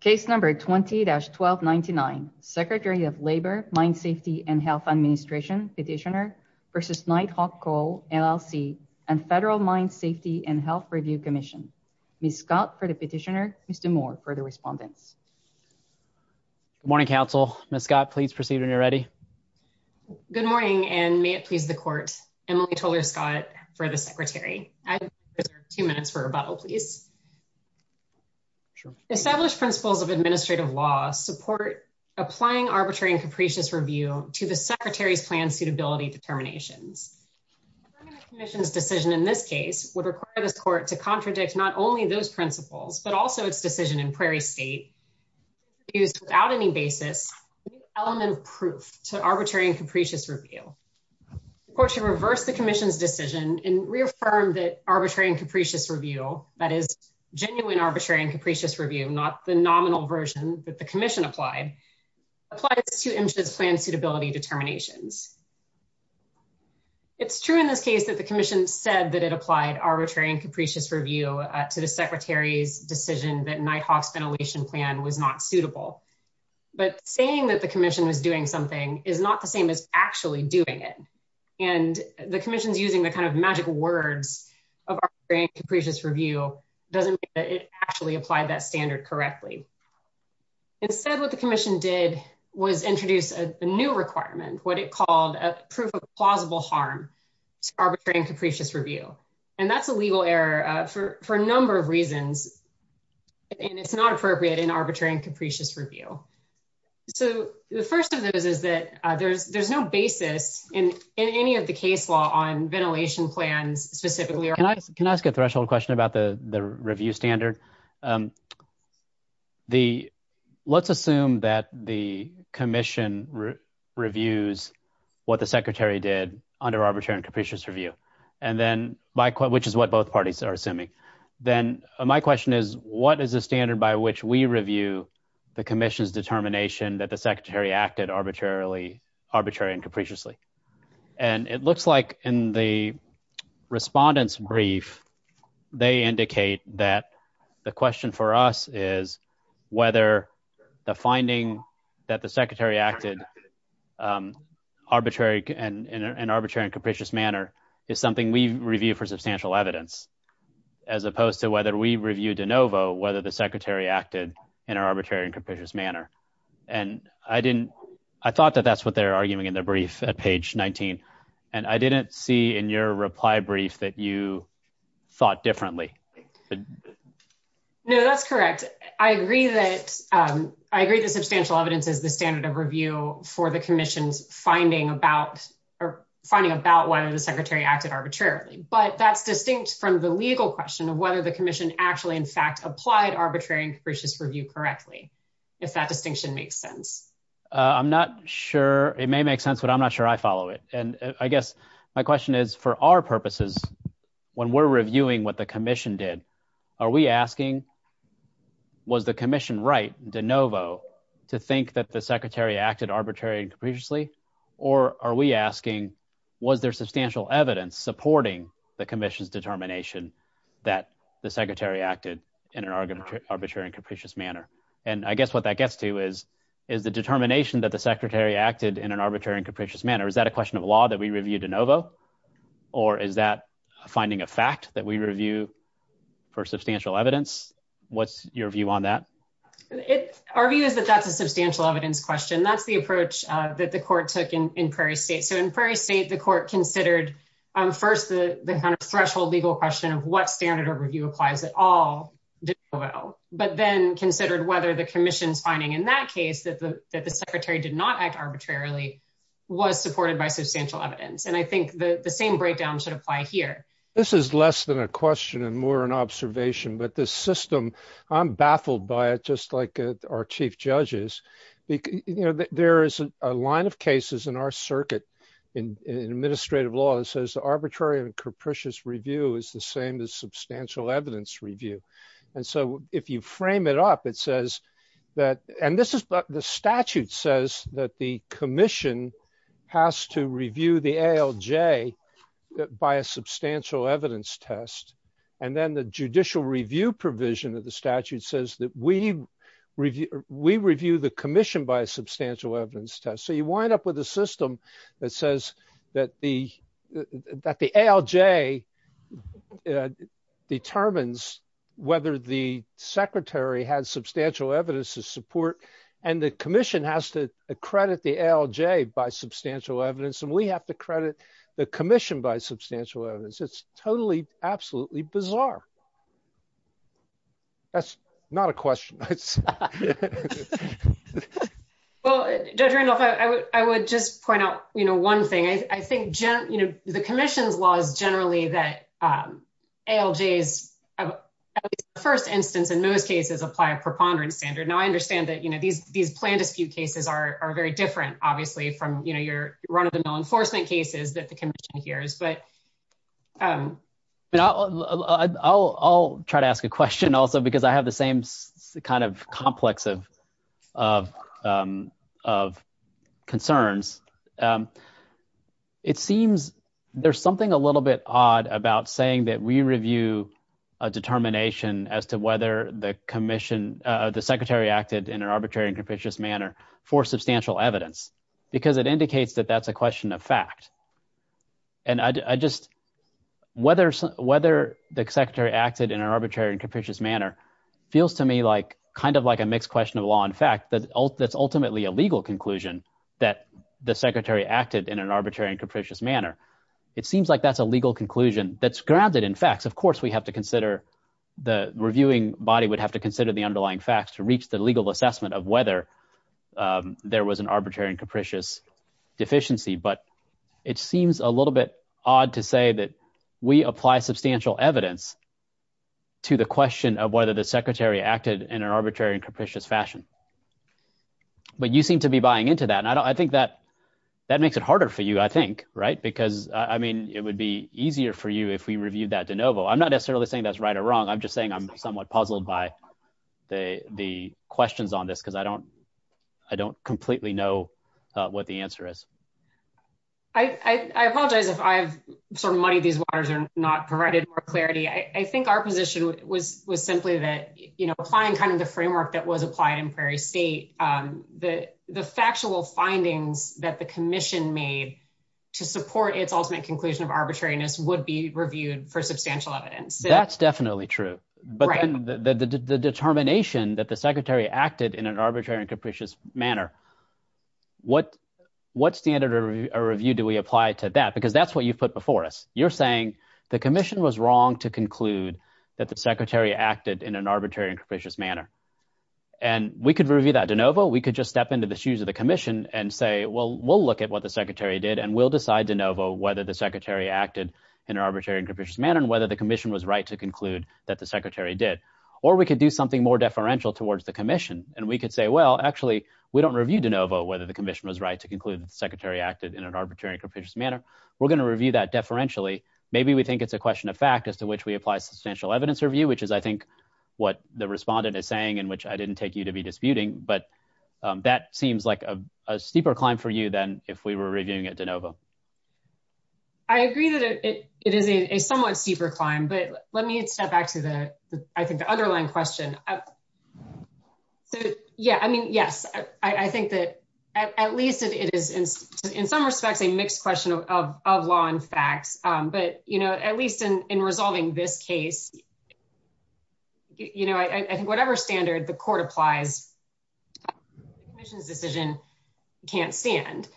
Case Number 20-1299, Secretary of Labor, Mine Safety and Health Administration, Petitioner v. Knight Hawk Coal, LLC, and Federal Mine Safety and Health Review Commission. Ms. Scott for the petitioner, Mr. Moore for the respondents. Good morning, counsel. Ms. Scott, please proceed when you're ready. Good morning, and may it please the court, Emily Toler-Scott for the secretary. I reserve two minutes for rebuttal, please. Established principles of administrative law support applying arbitrary and capricious review to the secretary's plan suitability determinations. The commission's decision in this case would require this court to contradict not only those principles, but also its decision in Prairie State to use, without any basis, an element of proof to arbitrary and capricious review. The court should reverse the commission's decision and reaffirm that arbitrary and capricious review, that is, genuine arbitrary and capricious review, not the nominal version that the commission applied, applies to MSHA's plan suitability determinations. It's true in this case that the commission said that it applied arbitrary and capricious review to the secretary's decision that Knight Hawk's ventilation plan was not suitable. But saying that the commission was doing something is not the same as actually doing it. And the commission's using the kind of magic words of arbitrary and capricious review doesn't mean that it actually applied that standard correctly. Instead, what the commission did was introduce a new requirement, what it called a proof of plausible harm to arbitrary and capricious review. And that's a legal error for a number of reasons, and it's not appropriate in arbitrary and capricious review. So the first of those is that there's no basis in any of the case law on ventilation plans specifically. Can I ask a threshold question about the review standard? Let's assume that the commission reviews what the secretary did under arbitrary and capricious review, which is what both parties are assuming. Then my question is, what is the standard by which we review the commission's determination that the secretary acted arbitrary and capriciously? And it looks like in the respondents' brief, they indicate that the question for us is whether the finding that the secretary acted in an arbitrary and capricious manner is something we've reviewed for substantial evidence, as opposed to whether we reviewed de novo whether the secretary acted in an arbitrary and capricious manner. And I thought that that's what they're arguing in their brief at page 19. And I didn't see in your reply brief that you thought differently. No, that's correct. I agree that substantial evidence is the standard of review for the commission's finding about whether the secretary acted arbitrarily. But that's distinct from the legal question of whether the commission actually in fact applied arbitrary and capricious review correctly, if that distinction makes sense. I'm not sure it may make sense, but I'm not sure I follow it. And I guess my question is, for our purposes, when we're reviewing what the commission did, are we asking, was the commission right de novo to think that the secretary acted arbitrary and capriciously? Or are we asking, was there substantial evidence supporting the commission's determination that the secretary acted in an arbitrary and capricious manner? And I guess what that gets to is, is the determination that the secretary acted in an arbitrary and capricious manner, is that a question of law that we reviewed de novo? Or is that finding a fact that we review for substantial evidence? What's your view on that? Our view is that that's a substantial evidence question. That's the approach that the court took in Prairie State. So in Prairie State, the court considered first the kind of threshold legal question of what standard of review applies at all de novo. But then considered whether the commission's finding in that case that the secretary did not act arbitrarily was supported by substantial evidence. And I think the same breakdown should apply here. This is less than a question and more an observation. But this system, I'm baffled by it, just like our chief judges. There is a line of cases in our circuit in administrative law that says arbitrary and capricious review is the same as substantial evidence review. And so if you frame it up, it says that, and this is the statute says that the commission has to review the ALJ by a substantial evidence test. And then the judicial review provision of the statute says that we review the commission by a substantial evidence test. So you wind up with a system that says that the ALJ determines whether the secretary has substantial evidence to support. And the commission has to accredit the ALJ by substantial evidence and we have to credit the commission by substantial evidence. It's totally, absolutely bizarre. That's not a question. Well, Judge Randolph, I would just point out one thing. I think the commission's law is generally that ALJs, at least the first instance in most cases, apply a preponderance standard. Now I understand that these plan dispute cases are very different, obviously, from your run-of-the-mill enforcement cases that the commission hears. I'll try to ask a question also because I have the same kind of complex of concerns. It seems there's something a little bit odd about saying that we review a determination as to whether the commission, the secretary acted in an arbitrary and capricious manner for substantial evidence because it indicates that that's a question of fact. Whether the secretary acted in an arbitrary and capricious manner feels to me kind of like a mixed question of law and fact that's ultimately a legal conclusion that the secretary acted in an arbitrary and capricious manner. It seems like that's a legal conclusion that's grounded in facts. Of course, the reviewing body would have to consider the underlying facts to reach the legal assessment of whether there was an arbitrary and capricious deficiency. But it seems a little bit odd to say that we apply substantial evidence to the question of whether the secretary acted in an arbitrary and capricious fashion. But you seem to be buying into that. And I think that makes it harder for you, I think, right? Because, I mean, it would be easier for you if we reviewed that de novo. I'm not necessarily saying that's right or wrong. I'm just saying I'm somewhat puzzled by the questions on this because I don't completely know what the answer is. I apologize if I've sort of muddied these waters and not provided clarity. I think our position was simply that, you know, applying kind of the framework that was applied in Prairie State, the factual findings that the commission made to support its ultimate conclusion of arbitrariness would be reviewed for substantial evidence. That's definitely true. But the determination that the secretary acted in an arbitrary and capricious manner, what standard of review do we apply to that? Because that's what you've put before us. You're saying the commission was wrong to conclude that the secretary acted in an arbitrary and capricious manner. And we could review that de novo. We could just step into the shoes of the commission and say, well, we'll look at what the secretary did and we'll decide de novo whether the secretary acted in an arbitrary and capricious manner and whether the commission was right to conclude that the secretary did. Or we could do something more deferential towards the commission. And we could say, well, actually, we don't review de novo whether the commission was right to conclude that the secretary acted in an arbitrary and capricious manner. We're going to review that deferentially. Maybe we think it's a question of fact as to which we apply substantial evidence review, which is, I think, what the respondent is saying and which I didn't take you to be disputing. But that seems like a steeper climb for you than if we were reviewing it de novo. I agree that it is a somewhat steeper climb. But let me step back to the underlying question. So, yeah, I mean, yes, I think that at least it is, in some respects, a mixed question of law and facts. But at least in resolving this case, I think whatever standard the court applies, the commission's decision can't stand.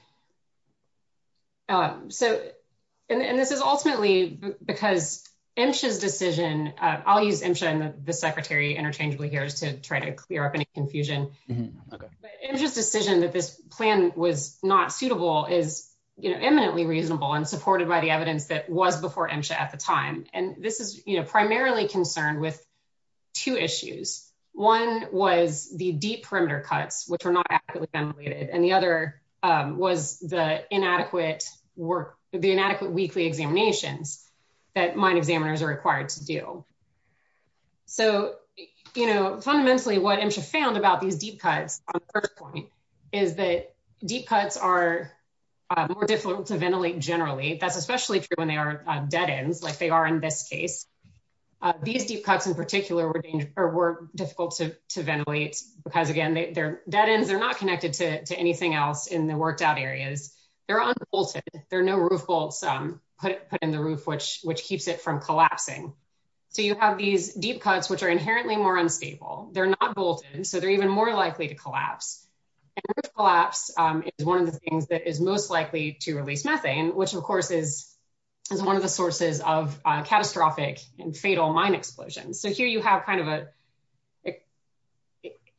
And this is ultimately because MSHA's decision, I'll use MSHA and the secretary interchangeably here just to try to clear up any confusion. MSHA's decision that this plan was not suitable is eminently reasonable and supported by the evidence that was before MSHA at the time. And this is primarily concerned with two issues. One was the deep perimeter cuts, which were not adequately ventilated. And the other was the inadequate weekly examinations that mine examiners are required to do. So, you know, fundamentally what MSHA found about these deep cuts on the first point is that deep cuts are more difficult to ventilate generally. That's especially true when they are dead ends like they are in this case. These deep cuts in particular were difficult to ventilate because, again, they're dead ends. They're not connected to anything else in the worked out areas. They're unbolted. There are no roof bolts put in the roof, which keeps it from collapsing. So you have these deep cuts, which are inherently more unstable. They're not bolted, so they're even more likely to collapse. And this collapse is one of the things that is most likely to release methane, which of course is one of the sources of catastrophic and fatal mine explosions. So here you have kind of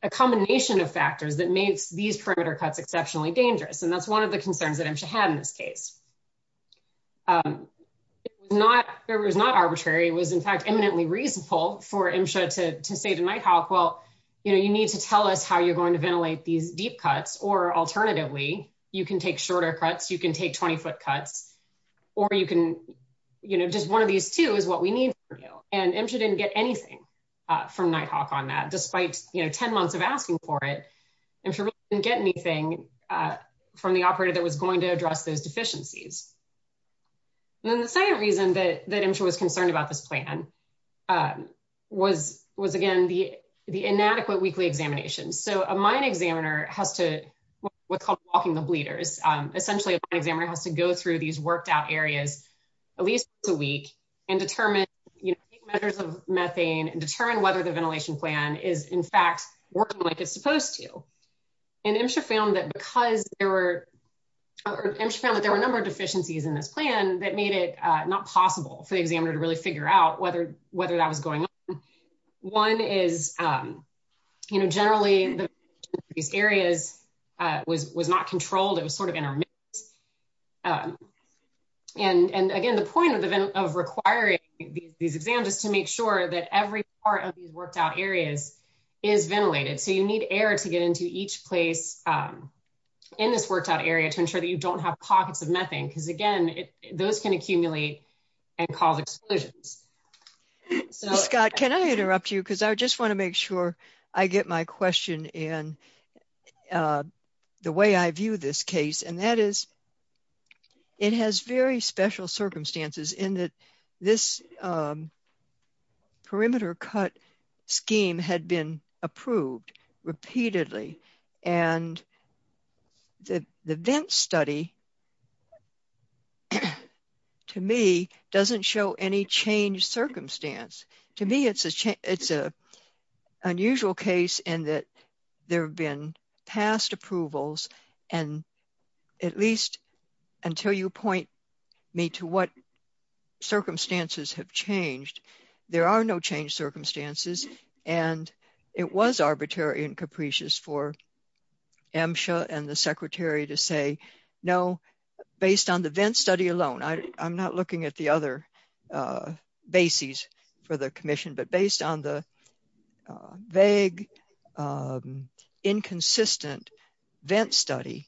a combination of factors that makes these perimeter cuts exceptionally dangerous. And that's one of the concerns that MSHA had in this case. It was not arbitrary. It was, in fact, eminently reasonable for MSHA to say to Nighthawk, well, you know, you need to tell us how you're going to ventilate these deep cuts. Or alternatively, you can take shorter cuts, you can take 20 foot cuts, or you can, you know, just one of these two is what we need from you. And MSHA didn't get anything from Nighthawk on that, despite, you know, 10 months of asking for it. MSHA didn't get anything from the operator that was going to address those deficiencies. And then the second reason that MSHA was concerned about this plan was, again, the inadequate weekly examinations. So a mine examiner has to, what's called walking the bleeders, essentially a mine examiner has to go through these worked out areas at least once a week and determine, you know, take measures of methane and determine whether the ventilation plan is, in fact, working like it's supposed to. And MSHA found that because there were, or MSHA found that there were a number of deficiencies in this plan that made it not possible for the examiner to really figure out whether that was going on. One is, you know, generally these areas was not controlled. It was sort of in our midst. And again, the point of requiring these exams is to make sure that every part of these worked out areas is ventilated. So you need air to get into each place in this worked out area to ensure that you don't have pockets of methane, because again, those can accumulate and cause explosions. Scott, can I interrupt you? Because I just want to make sure I get my question in the way I view this case. And that is, it has very special circumstances in that this perimeter cut scheme had been approved repeatedly. And the VIMS study, to me, doesn't show any changed circumstance. To me, it's an unusual case in that there have been past approvals. And at least until you point me to what circumstances have changed, there are no changed circumstances. And it was arbitrary and capricious for MSHA and the secretary to say, no, based on the VIMS study alone, I'm not looking at the other bases for the commission, but based on the vague, inconsistent VIMS study,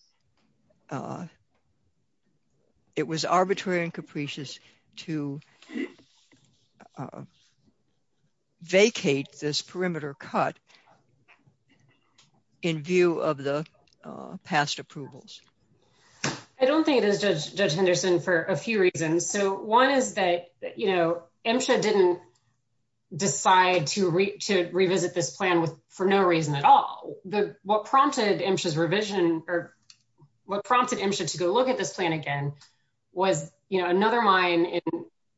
it was arbitrary and capricious to vacate this area. So I'm just wondering, what prompted MSHA to vacate this perimeter cut in view of the past approvals? I don't think it is, Judge Henderson, for a few reasons. So one is that MSHA didn't decide to revisit this plan for no reason at all. What prompted MSHA to go look at this plan again was another mine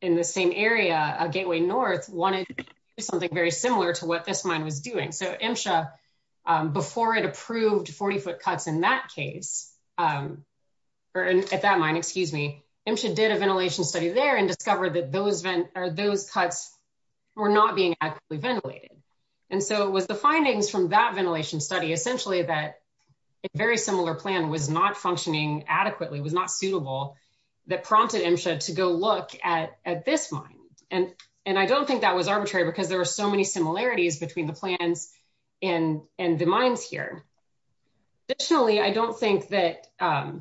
in the same area, Gateway North, wanted to do something very similar to what this mine was doing. So MSHA, before it approved 40-foot cuts in that case, or at that mine, excuse me, MSHA did a ventilation study there and discovered that those cuts were not being adequately ventilated. And so it was the findings from that ventilation study, essentially, that a very similar plan was not functioning adequately, was not suitable, that prompted MSHA to go look at this mine. And I don't think that was arbitrary because there were so many similarities between the plans and the mines here. Additionally, I don't think that, I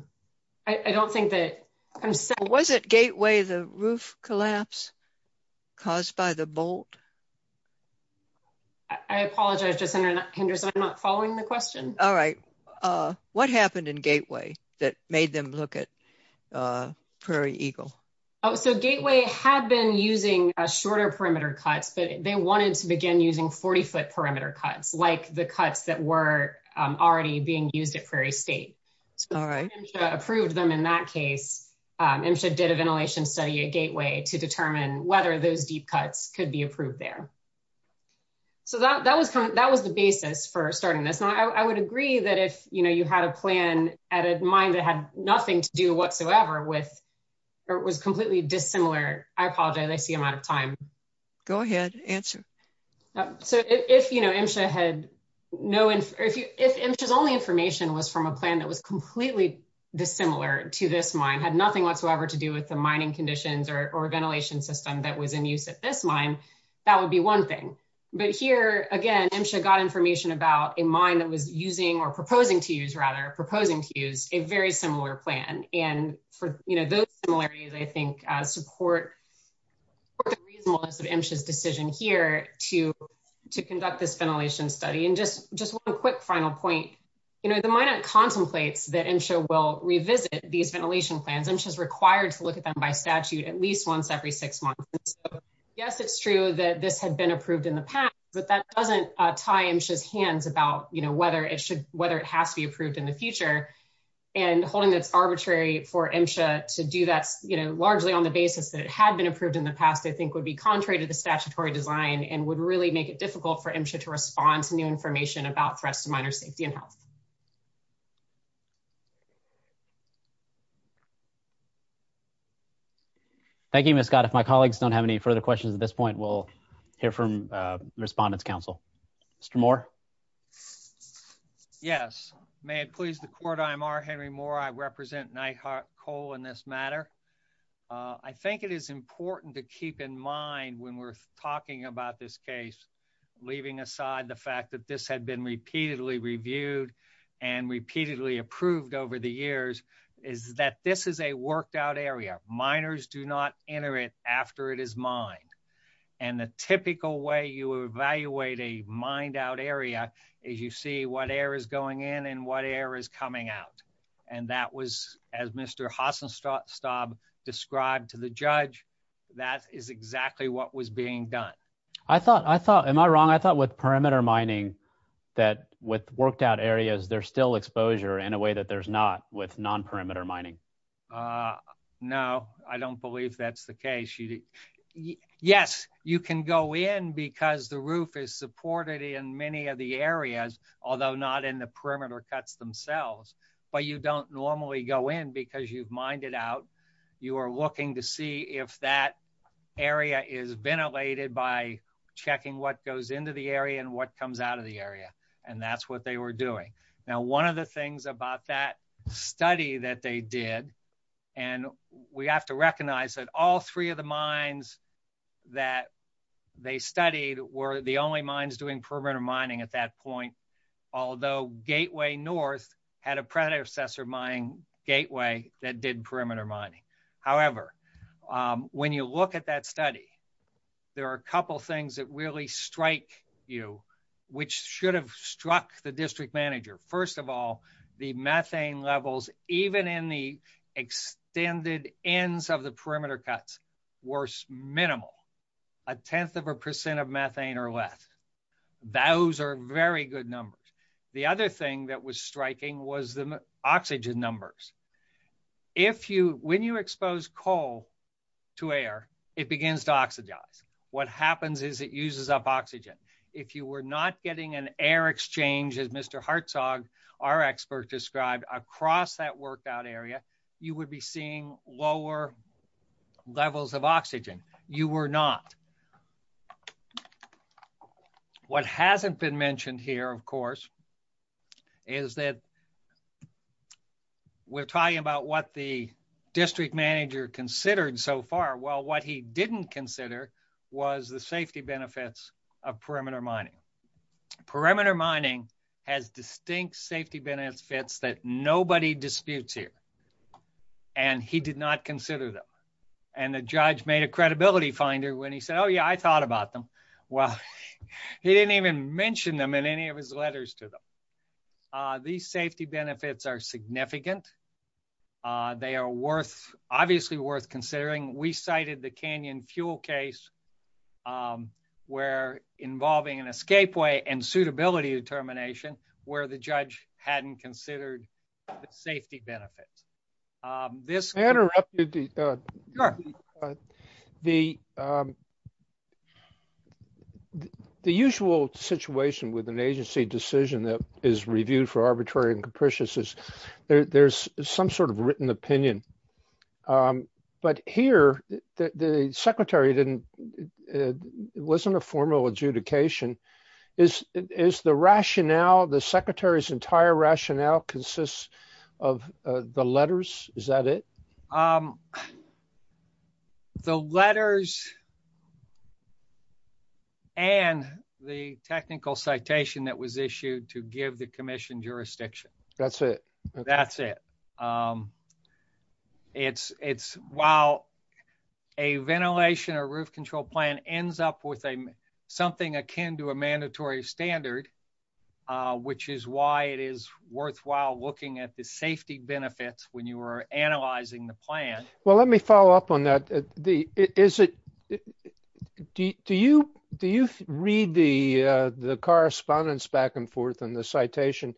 don't think that... Was it Gateway, the roof collapse caused by the bolt? I apologize, Judge Henderson, I'm not following the question. All right. What happened in Gateway that made them look at Prairie Eagle? So Gateway had been using a shorter perimeter cuts, but they wanted to begin using 40-foot perimeter cuts, like the cuts that were already being used at Prairie State. So MSHA approved them in that case. MSHA did a ventilation study at Gateway to determine whether those deep cuts could be approved there. So that was the basis for starting this. Now, I would agree that if, you know, you had a plan at a mine that had nothing to do whatsoever with, or was completely dissimilar, I apologize, I see I'm out of time. Go ahead, answer. So if, you know, MSHA had no, if MSHA's only information was from a plan that was completely dissimilar to this mine, had nothing whatsoever to do with the mining conditions or ventilation system that was in use at this mine, that would be one thing. But here, again, MSHA got information about a mine that was using, or proposing to use, rather, proposing to use a very similar plan. And for, you know, those similarities, I think, support the reasonableness of MSHA's decision here to conduct this ventilation study. And just, just one quick final point. You know, the Minot contemplates that MSHA will revisit these ventilation plans. MSHA is required to look at them by statute at least once every six months. Yes, it's true that this had been approved in the past, but that doesn't tie MSHA's hands about, you know, whether it should, whether it has to be approved in the future. And holding that it's arbitrary for MSHA to do that, you know, largely on the basis that it had been approved in the past, I think, would be contrary to the statutory design and would really make it difficult for MSHA to respond to new information about threats to miners' safety and health. Thank you, Ms. Scott. If my colleagues don't have any further questions at this point, we'll hear from Respondents' Council. Mr. Moore. Yes. May it please the Court, I'm R. Henry Moore. I represent Nyhart Coal in this matter. I think it is important to keep in mind when we're talking about this case, leaving aside the fact that this had been repeatedly reviewed and repeatedly approved over the years, is that this is a worked out area. Miners do not enter it after it is mined. And the typical way you evaluate a mined out area is you see what air is going in and what air is coming out. And that was, as Mr. Hasenstab described to the judge, that is exactly what was being done. I thought, I thought, am I wrong? I thought with perimeter mining, that with worked out areas, there's still exposure in a way that there's not with non-perimeter mining. No, I don't believe that's the case. Yes, you can go in because the roof is supported in many of the areas, although not in the perimeter cuts themselves, but you don't normally go in because you've mined it out. You are looking to see if that area is ventilated by checking what goes into the area and what comes out of the area. And that's what they were doing. Now, one of the things about that study that they did, and we have to recognize that all three of the mines that they studied were the only mines doing perimeter mining at that point. Although Gateway North had a predecessor mine, Gateway, that did perimeter mining. However, when you look at that study, there are a couple things that really strike you, which should have struck the district manager. First of all, the methane levels, even in the extended ends of the perimeter cuts, were minimal. A tenth of a percent of methane or less. Those are very good numbers. The other thing that was striking was the oxygen numbers. When you expose coal to air, it begins to oxidize. What happens is it uses up oxygen. If you were not getting an air exchange, as Mr. Hartsog, our expert, described across that workout area, you would be seeing lower levels of oxygen. You were not. What hasn't been mentioned here, of course, is that we're talking about what the district manager considered so far. Well, what he didn't consider was the safety benefits of perimeter mining. Perimeter mining has distinct safety benefits that nobody disputes here. He did not consider them. The judge made a credibility finder when he said, oh, yeah, I thought about them. Well, he didn't even mention them in any of his letters to them. These safety benefits are significant. They are obviously worth considering. We cited the Canyon fuel case involving an escape way and suitability determination where the judge hadn't considered the safety benefits. I interrupted. The The usual situation with an agency decision that is reviewed for arbitrary and capricious is there's some sort of written opinion. But here, the secretary didn't. It wasn't a formal adjudication. Is the rationale, the secretary's entire rationale consists of the letters? Is that it? The letters. And the technical citation that was issued to give the commission jurisdiction. That's it. That's it. It's it's while a ventilation or roof control plan ends up with a something akin to a mandatory standard, which is why it is worthwhile looking at the safety benefits when you are analyzing the plan. Well, let me follow up on that. The is it do you do you read the the correspondence back and forth on the citation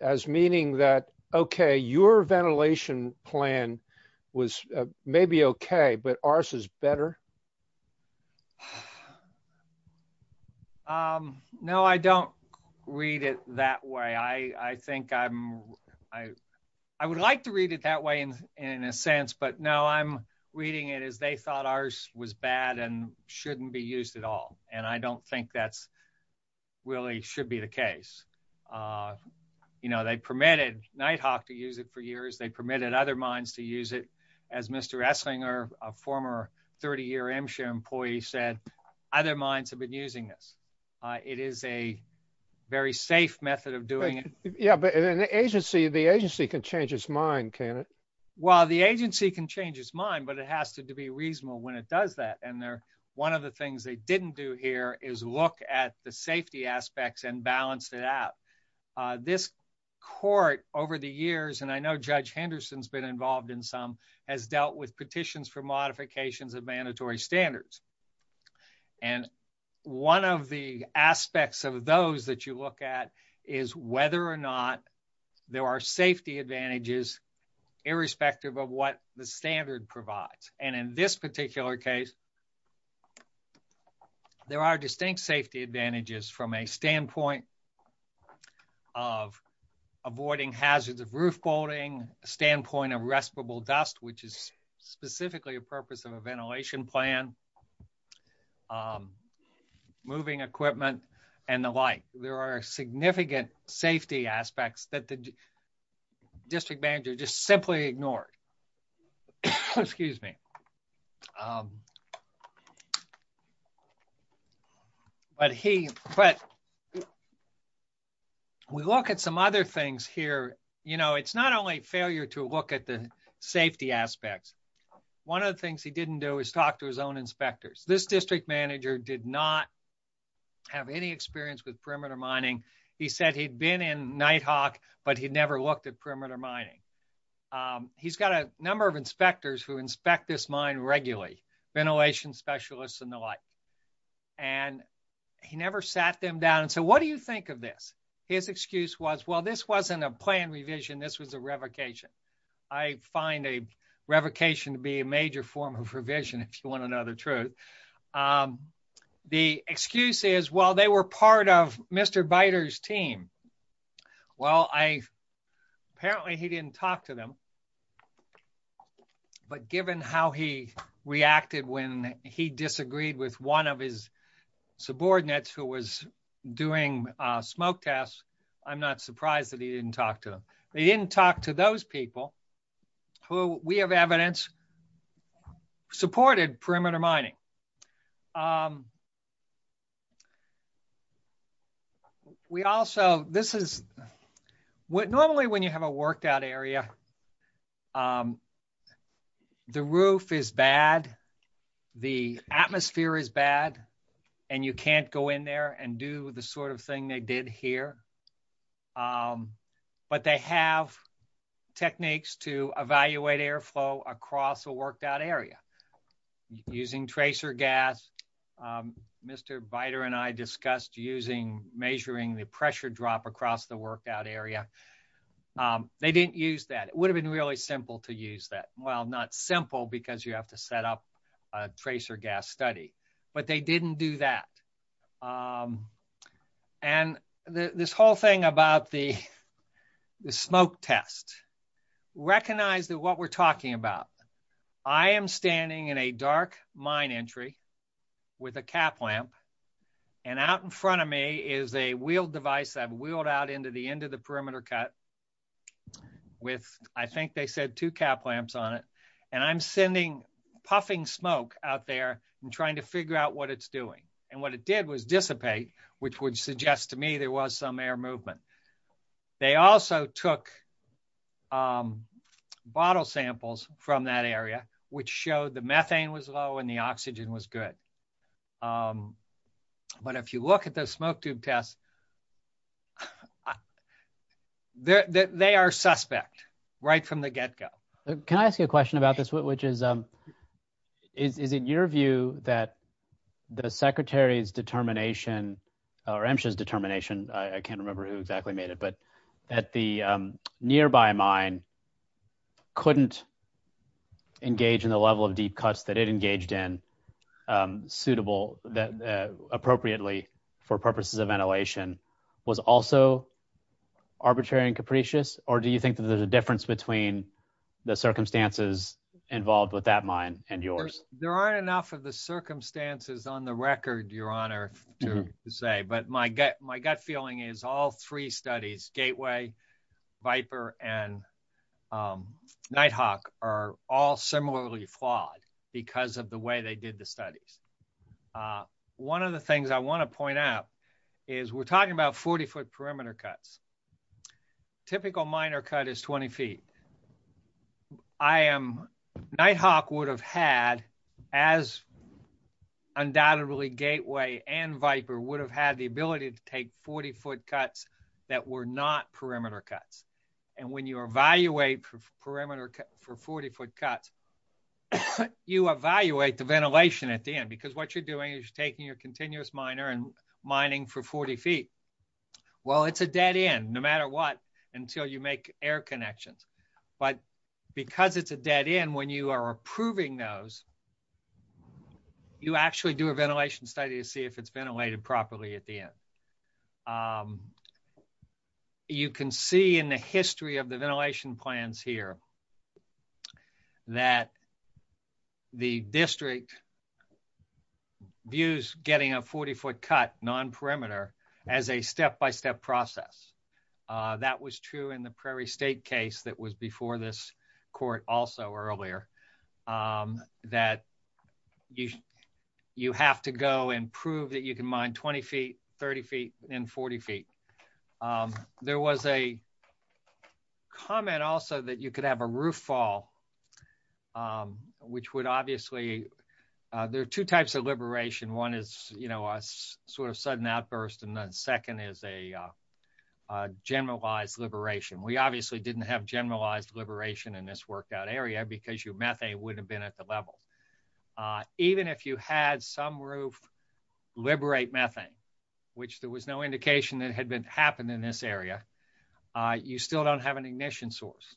as meaning that. Okay. Your ventilation plan was maybe. Okay. But ours is better. No, I don't read it that way. I think I'm I I would like to read it that way in in a sense. But now I'm reading it as they thought ours was bad and shouldn't be used at all. And I don't think that's really should be the case. You know, they permitted Nighthawk to use it for years. They permitted other minds to use it. As Mr. Esslinger, a former 30 year M share employee said, other minds have been using this. It is a very safe method of doing it. Yeah, but an agency, the agency can change its mind. Can it Well, the agency can change its mind, but it has to be reasonable when it does that. And they're one of the things they didn't do here is look at the safety aspects and balance it out. This court over the years, and I know Judge Henderson's been involved in some has dealt with petitions for modifications of mandatory standards. And one of the aspects of those that you look at is whether or not there are safety advantages, irrespective of what the standard provides. And in this particular case, There are distinct safety advantages from a standpoint of avoiding hazards of roof bolting standpoint of respirable dust, which is specifically a purpose of a ventilation plan. Moving equipment and the like. There are significant safety aspects that the district manager just simply ignored. Excuse me. But he, but We look at some other things here, you know, it's not only failure to look at the safety aspects. One of the things he didn't do is talk to his own inspectors this district manager did not Have any experience with perimeter mining. He said he'd been in Nighthawk, but he'd never looked at perimeter mining. He's got a number of inspectors who inspect this mine regularly ventilation specialists and the like. And he never sat them down. And so what do you think of this. His excuse was, well, this wasn't a plan revision. This was a revocation. I find a revocation to be a major form of revision. If you want to know the truth. The excuse is, well, they were part of Mr biters team. Well, I apparently he didn't talk to them. But given how he reacted when he disagreed with one of his subordinates, who was doing smoke tests. I'm not surprised that he didn't talk to them. They didn't talk to those people who we have evidence Supported perimeter mining. We also this is what normally when you have a worked out area. The roof is bad. The atmosphere is bad and you can't go in there and do the sort of thing they did here. But they have techniques to evaluate air flow across a worked out area using tracer gas. Mr biter and I discussed using measuring the pressure drop across the workout area. They didn't use that it would have been really simple to use that. Well, not simple because you have to set up a tracer gas study, but they didn't do that. And this whole thing about the smoke test recognize that what we're talking about. I am standing in a dark mine entry with a cap lamp and out in front of me is a wheel device that wheeled out into the end of the perimeter cut With I think they said to cap lamps on it and I'm sending puffing smoke out there and trying to figure out what it's doing. And what it did was dissipate, which would suggest to me there was some air movement. They also took Bottle samples from that area, which showed the methane was low and the oxygen was good. But if you look at the smoke tube test. They are suspect right from the get go. Can I ask you a question about this, which is, um, is it your view that the Secretary's determination or inches determination. I can't remember who exactly made it, but at the nearby mine. Couldn't Engage in the level of deep cuts that it engaged in suitable that appropriately for purposes of ventilation was also arbitrary and capricious or do you think that there's a difference between the circumstances involved with that mine and yours. Well, there aren't enough of the circumstances on the record, Your Honor, to say, but my gut. My gut feeling is all three studies gateway Viper and Nighthawk are all similarly flawed because of the way they did the studies. One of the things I want to point out is we're talking about 40 foot perimeter cuts. Typical minor cut is 20 feet. I am Nighthawk would have had as Undoubtedly gateway and Viper would have had the ability to take 40 foot cuts that were not perimeter cuts and when you evaluate for perimeter for 40 foot cuts. You evaluate the ventilation at the end because what you're doing is taking your continuous minor and mining for 40 feet. Well, it's a dead end, no matter what, until you make air connections, but because it's a dead end when you are approving those You actually do a ventilation study to see if it's ventilated properly at the end. You can see in the history of the ventilation plans here. That The district. Views getting a 40 foot cut non perimeter as a step by step process that was true in the Prairie State case that was before this court also earlier. That you, you have to go and prove that you can mind 20 feet 30 feet and 40 feet. There was a Comment also that you could have a roof fall. Which would obviously there are two types of liberation. One is, you know, sort of sudden outburst. And then second is a Generalized liberation. We obviously didn't have generalized liberation in this workout area because you met a would have been at the level. Even if you had some roof liberate methane, which there was no indication that had been happened in this area, you still don't have an ignition source.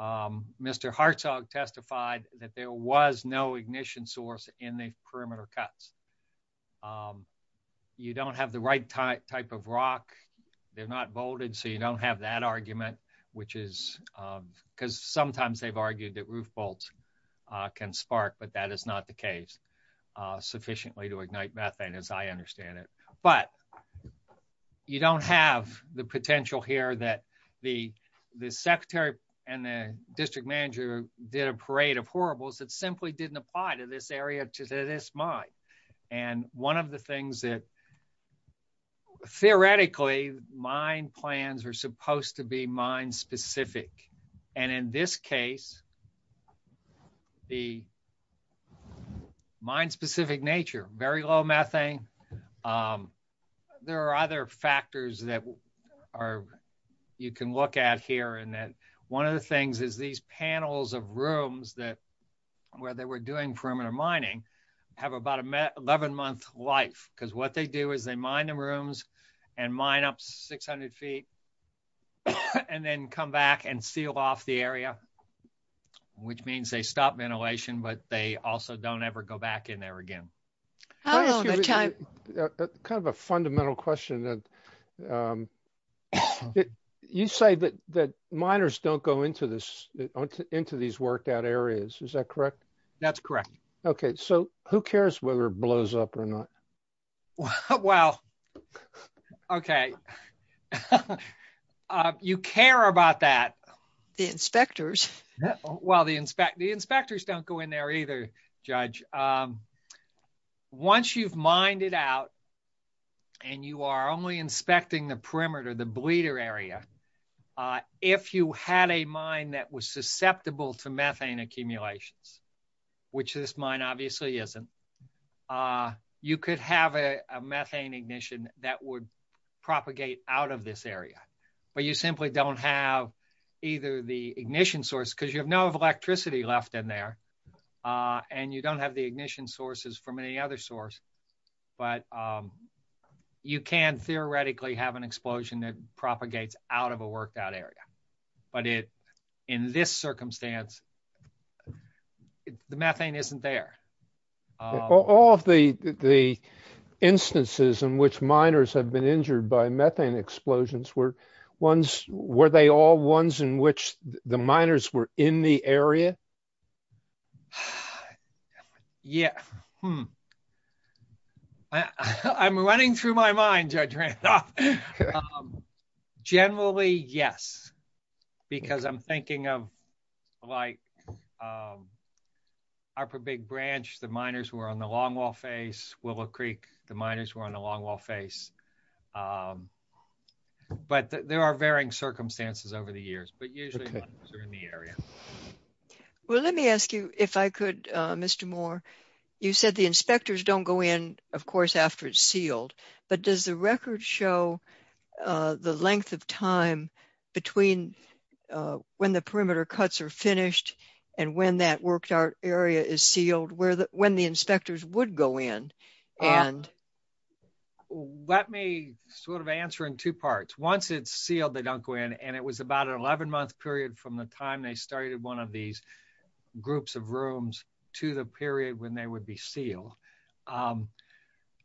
Mr Hartsog testified that there was no ignition source in the perimeter cuts. You don't have the right type type of rock. They're not bolded so you don't have that argument, which is because sometimes they've argued that roof bolts can spark, but that is not the case sufficiently to ignite methane, as I understand it, but You don't have the potential here that the the secretary and the district manager did a parade of horribles that simply didn't apply to this area to this mind. And one of the things that Theoretically mine plans are supposed to be mine specific and in this case. The Mine specific nature very low methane. There are other factors that are you can look at here and that one of the things is these panels of rooms that where they were doing perimeter mining have about a 11 month life because what they do is they mind the rooms and mine up 600 feet. And then come back and seal off the area. Which means they stop ventilation, but they also don't ever go back in there again. Kind of a fundamental question that You say that that miners don't go into this into these worked out areas. Is that correct, that's correct. Okay, so who cares whether blows up or not. Well, Okay. You care about that. The inspectors Well, the inspect the inspectors don't go in there either. Judge Once you've minded out And you are only inspecting the perimeter, the bleeder area. If you had a mind that was susceptible to methane accumulations, which this mine obviously isn't You could have a methane ignition that would propagate out of this area, but you simply don't have either the ignition source because you have no electricity left in there. And you don't have the ignition sources from any other source, but You can theoretically have an explosion that propagates out of a worked out area, but it in this circumstance. The methane isn't there. All of the the instances in which miners have been injured by methane explosions were ones where they all ones in which the miners were in the area. Yeah. I'm running through my mind. Generally, yes, because I'm thinking of like Our big branch. The miners were on the long wall face Willow Creek. The miners were on a long wall face. But there are varying circumstances over the years, but usually Well, let me ask you if I could. Mr. Moore. You said the inspectors don't go in. Of course, after it's sealed, but does the record show The length of time between when the perimeter cuts are finished and when that worked out area is sealed where the when the inspectors would go in and Let me sort of answer in two parts. Once it's sealed. They don't go in and it was about an 11 month period from the time they started one of these groups of rooms to the period when they would be seal.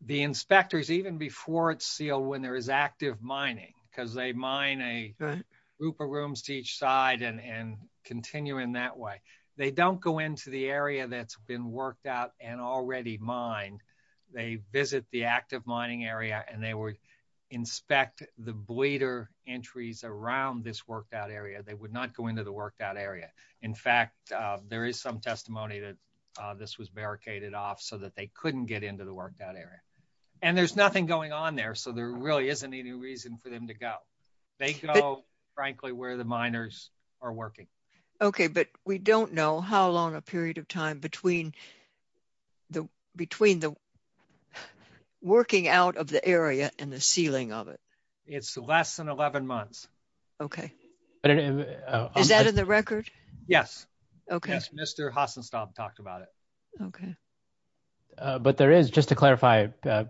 The inspectors, even before it's seal when there is active mining because they mine a Group of rooms to each side and and continue in that way. They don't go into the area that's been worked out and already mine. They visit the active mining area and they were inspect the bleeder entries around this worked out area, they would not go into the work that area. In fact, there is some testimony that This was barricaded off so that they couldn't get into the work that area and there's nothing going on there. So there really isn't any reason for them to go. They go, frankly, where the miners are working. Okay, but we don't know how long a period of time between The between the Working out of the area and the ceiling of it. It's less than 11 months. Okay. Is that in the record. Yes. Okay, Mr. Hasselstock talked about it. Okay. But there is just to clarify,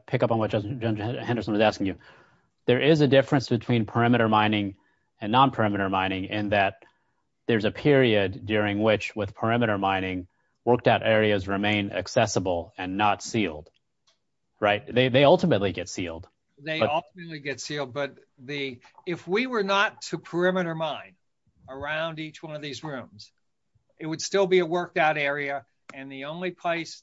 pick up on what just Henderson is asking you. There is a difference between perimeter mining and non perimeter mining in that there's a period during which with perimeter mining worked out areas remain accessible and not sealed right they ultimately get sealed. But the if we were not to perimeter mine around each one of these rooms, it would still be a worked out area. And the only place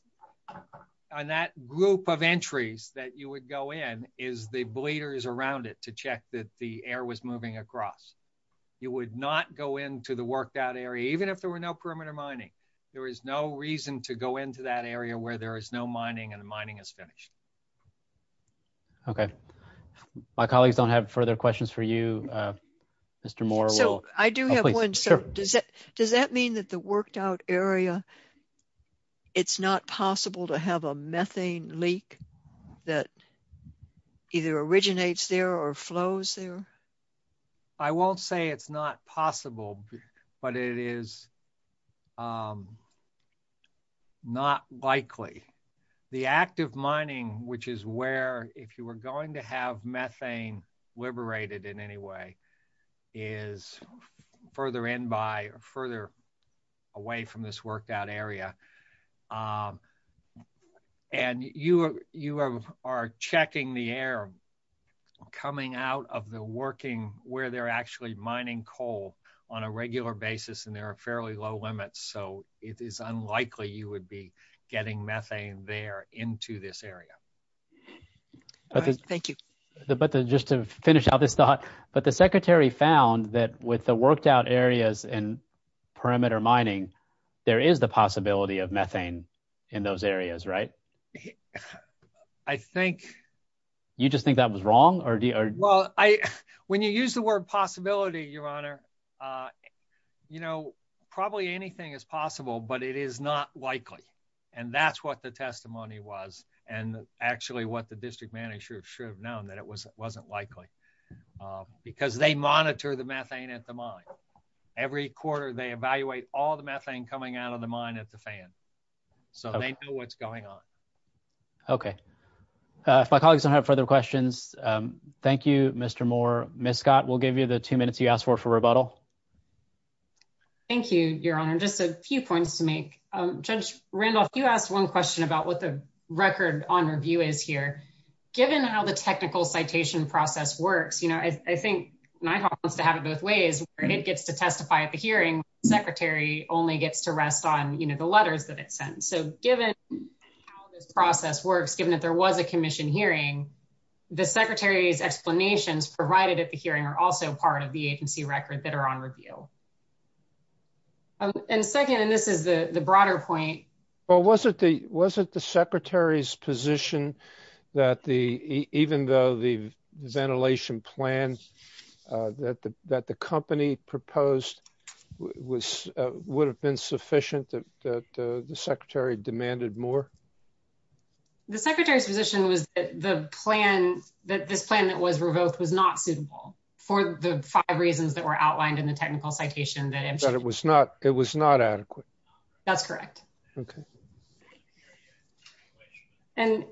on that group of entries that you would go in, is the bleeders around it to check that the air was moving across. You would not go into the worked out area, even if there were no perimeter mining. There is no reason to go into that area where there is no mining and mining is finished. Okay. My colleagues don't have further questions for you. Mr Moore. So, I do have one. So, does that, does that mean that the worked out area. It's not possible to have a methane leak that Either originates there or flows there. I won't say it's not possible, but it is Not likely the active mining, which is where if you were going to have methane liberated in any way is further in by further away from this worked out area. And you are you are checking the air coming out of the working where they're actually mining coal on a regular basis and there are fairly low limits. So it is unlikely you would be getting methane there into this area. Thank you. But just to finish out this thought, but the Secretary found that with the worked out areas and perimeter mining. There is the possibility of methane in those areas. Right. I think you just think that was wrong or do Well, I when you use the word possibility, Your Honor. You know, probably anything is possible, but it is not likely. And that's what the testimony was. And actually what the district manager should have known that it was wasn't likely Because they monitor the methane at the mine every quarter they evaluate all the methane coming out of the mine at the fan. So they know what's going on. Okay. If my colleagues don't have further questions. Thank you, Mr. Moore. Ms. Scott will give you the two minutes you asked for for rebuttal. Thank you, Your Honor. Just a few points to make. Judge Randolph, you asked one question about what the record on review is here. Given how the technical citation process works, you know, I think NYHAWK wants to have it both ways. It gets to testify at the hearing. Secretary only gets to rest on, you know, the letters that it sends. So given How this process works, given that there was a commission hearing, the Secretary's explanations provided at the hearing are also part of the agency record that are on review. And second, and this is the broader point. Well, was it the Secretary's position that even though the ventilation plan that the company proposed would have been sufficient that the Secretary demanded more? The Secretary's position was that this plan that was revoked was not suitable for the five reasons that were outlined in the technical citation. That it was not adequate. That's correct. Okay. And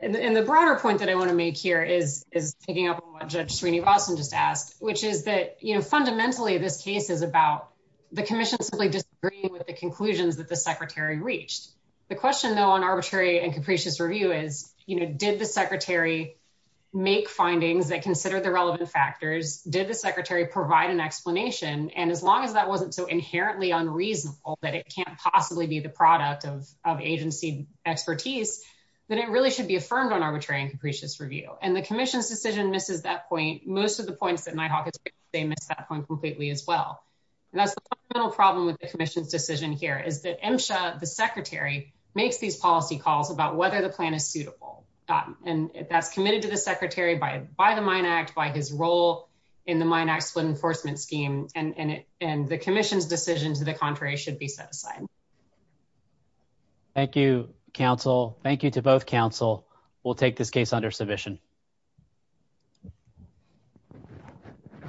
the broader point that I want to make here is is picking up on what Judge Sweeney-Rawson just asked, which is that, you know, fundamentally, this case is about the commission simply disagreeing with the conclusions that the Secretary reached. The question, though, on arbitrary and capricious review is, you know, did the Secretary make findings that consider the relevant factors? Did the Secretary provide an explanation? And as long as that wasn't so inherently unreasonable that it can't possibly be the product of agency expertise, then it really should be affirmed on arbitrary and capricious review. And the commission's decision misses that point. Most of the points that NIHOC has made, they miss that point completely as well. And that's the fundamental problem with the commission's decision here is that MSHA, the Secretary, makes these policy calls about whether the plan is suitable. And that's committed to the Secretary by the Mine Act, by his role in the Mine Act split enforcement scheme, and the commission's decision to the contrary should be set aside. Thank you, counsel. Thank you to both counsel. We'll take this case under submission.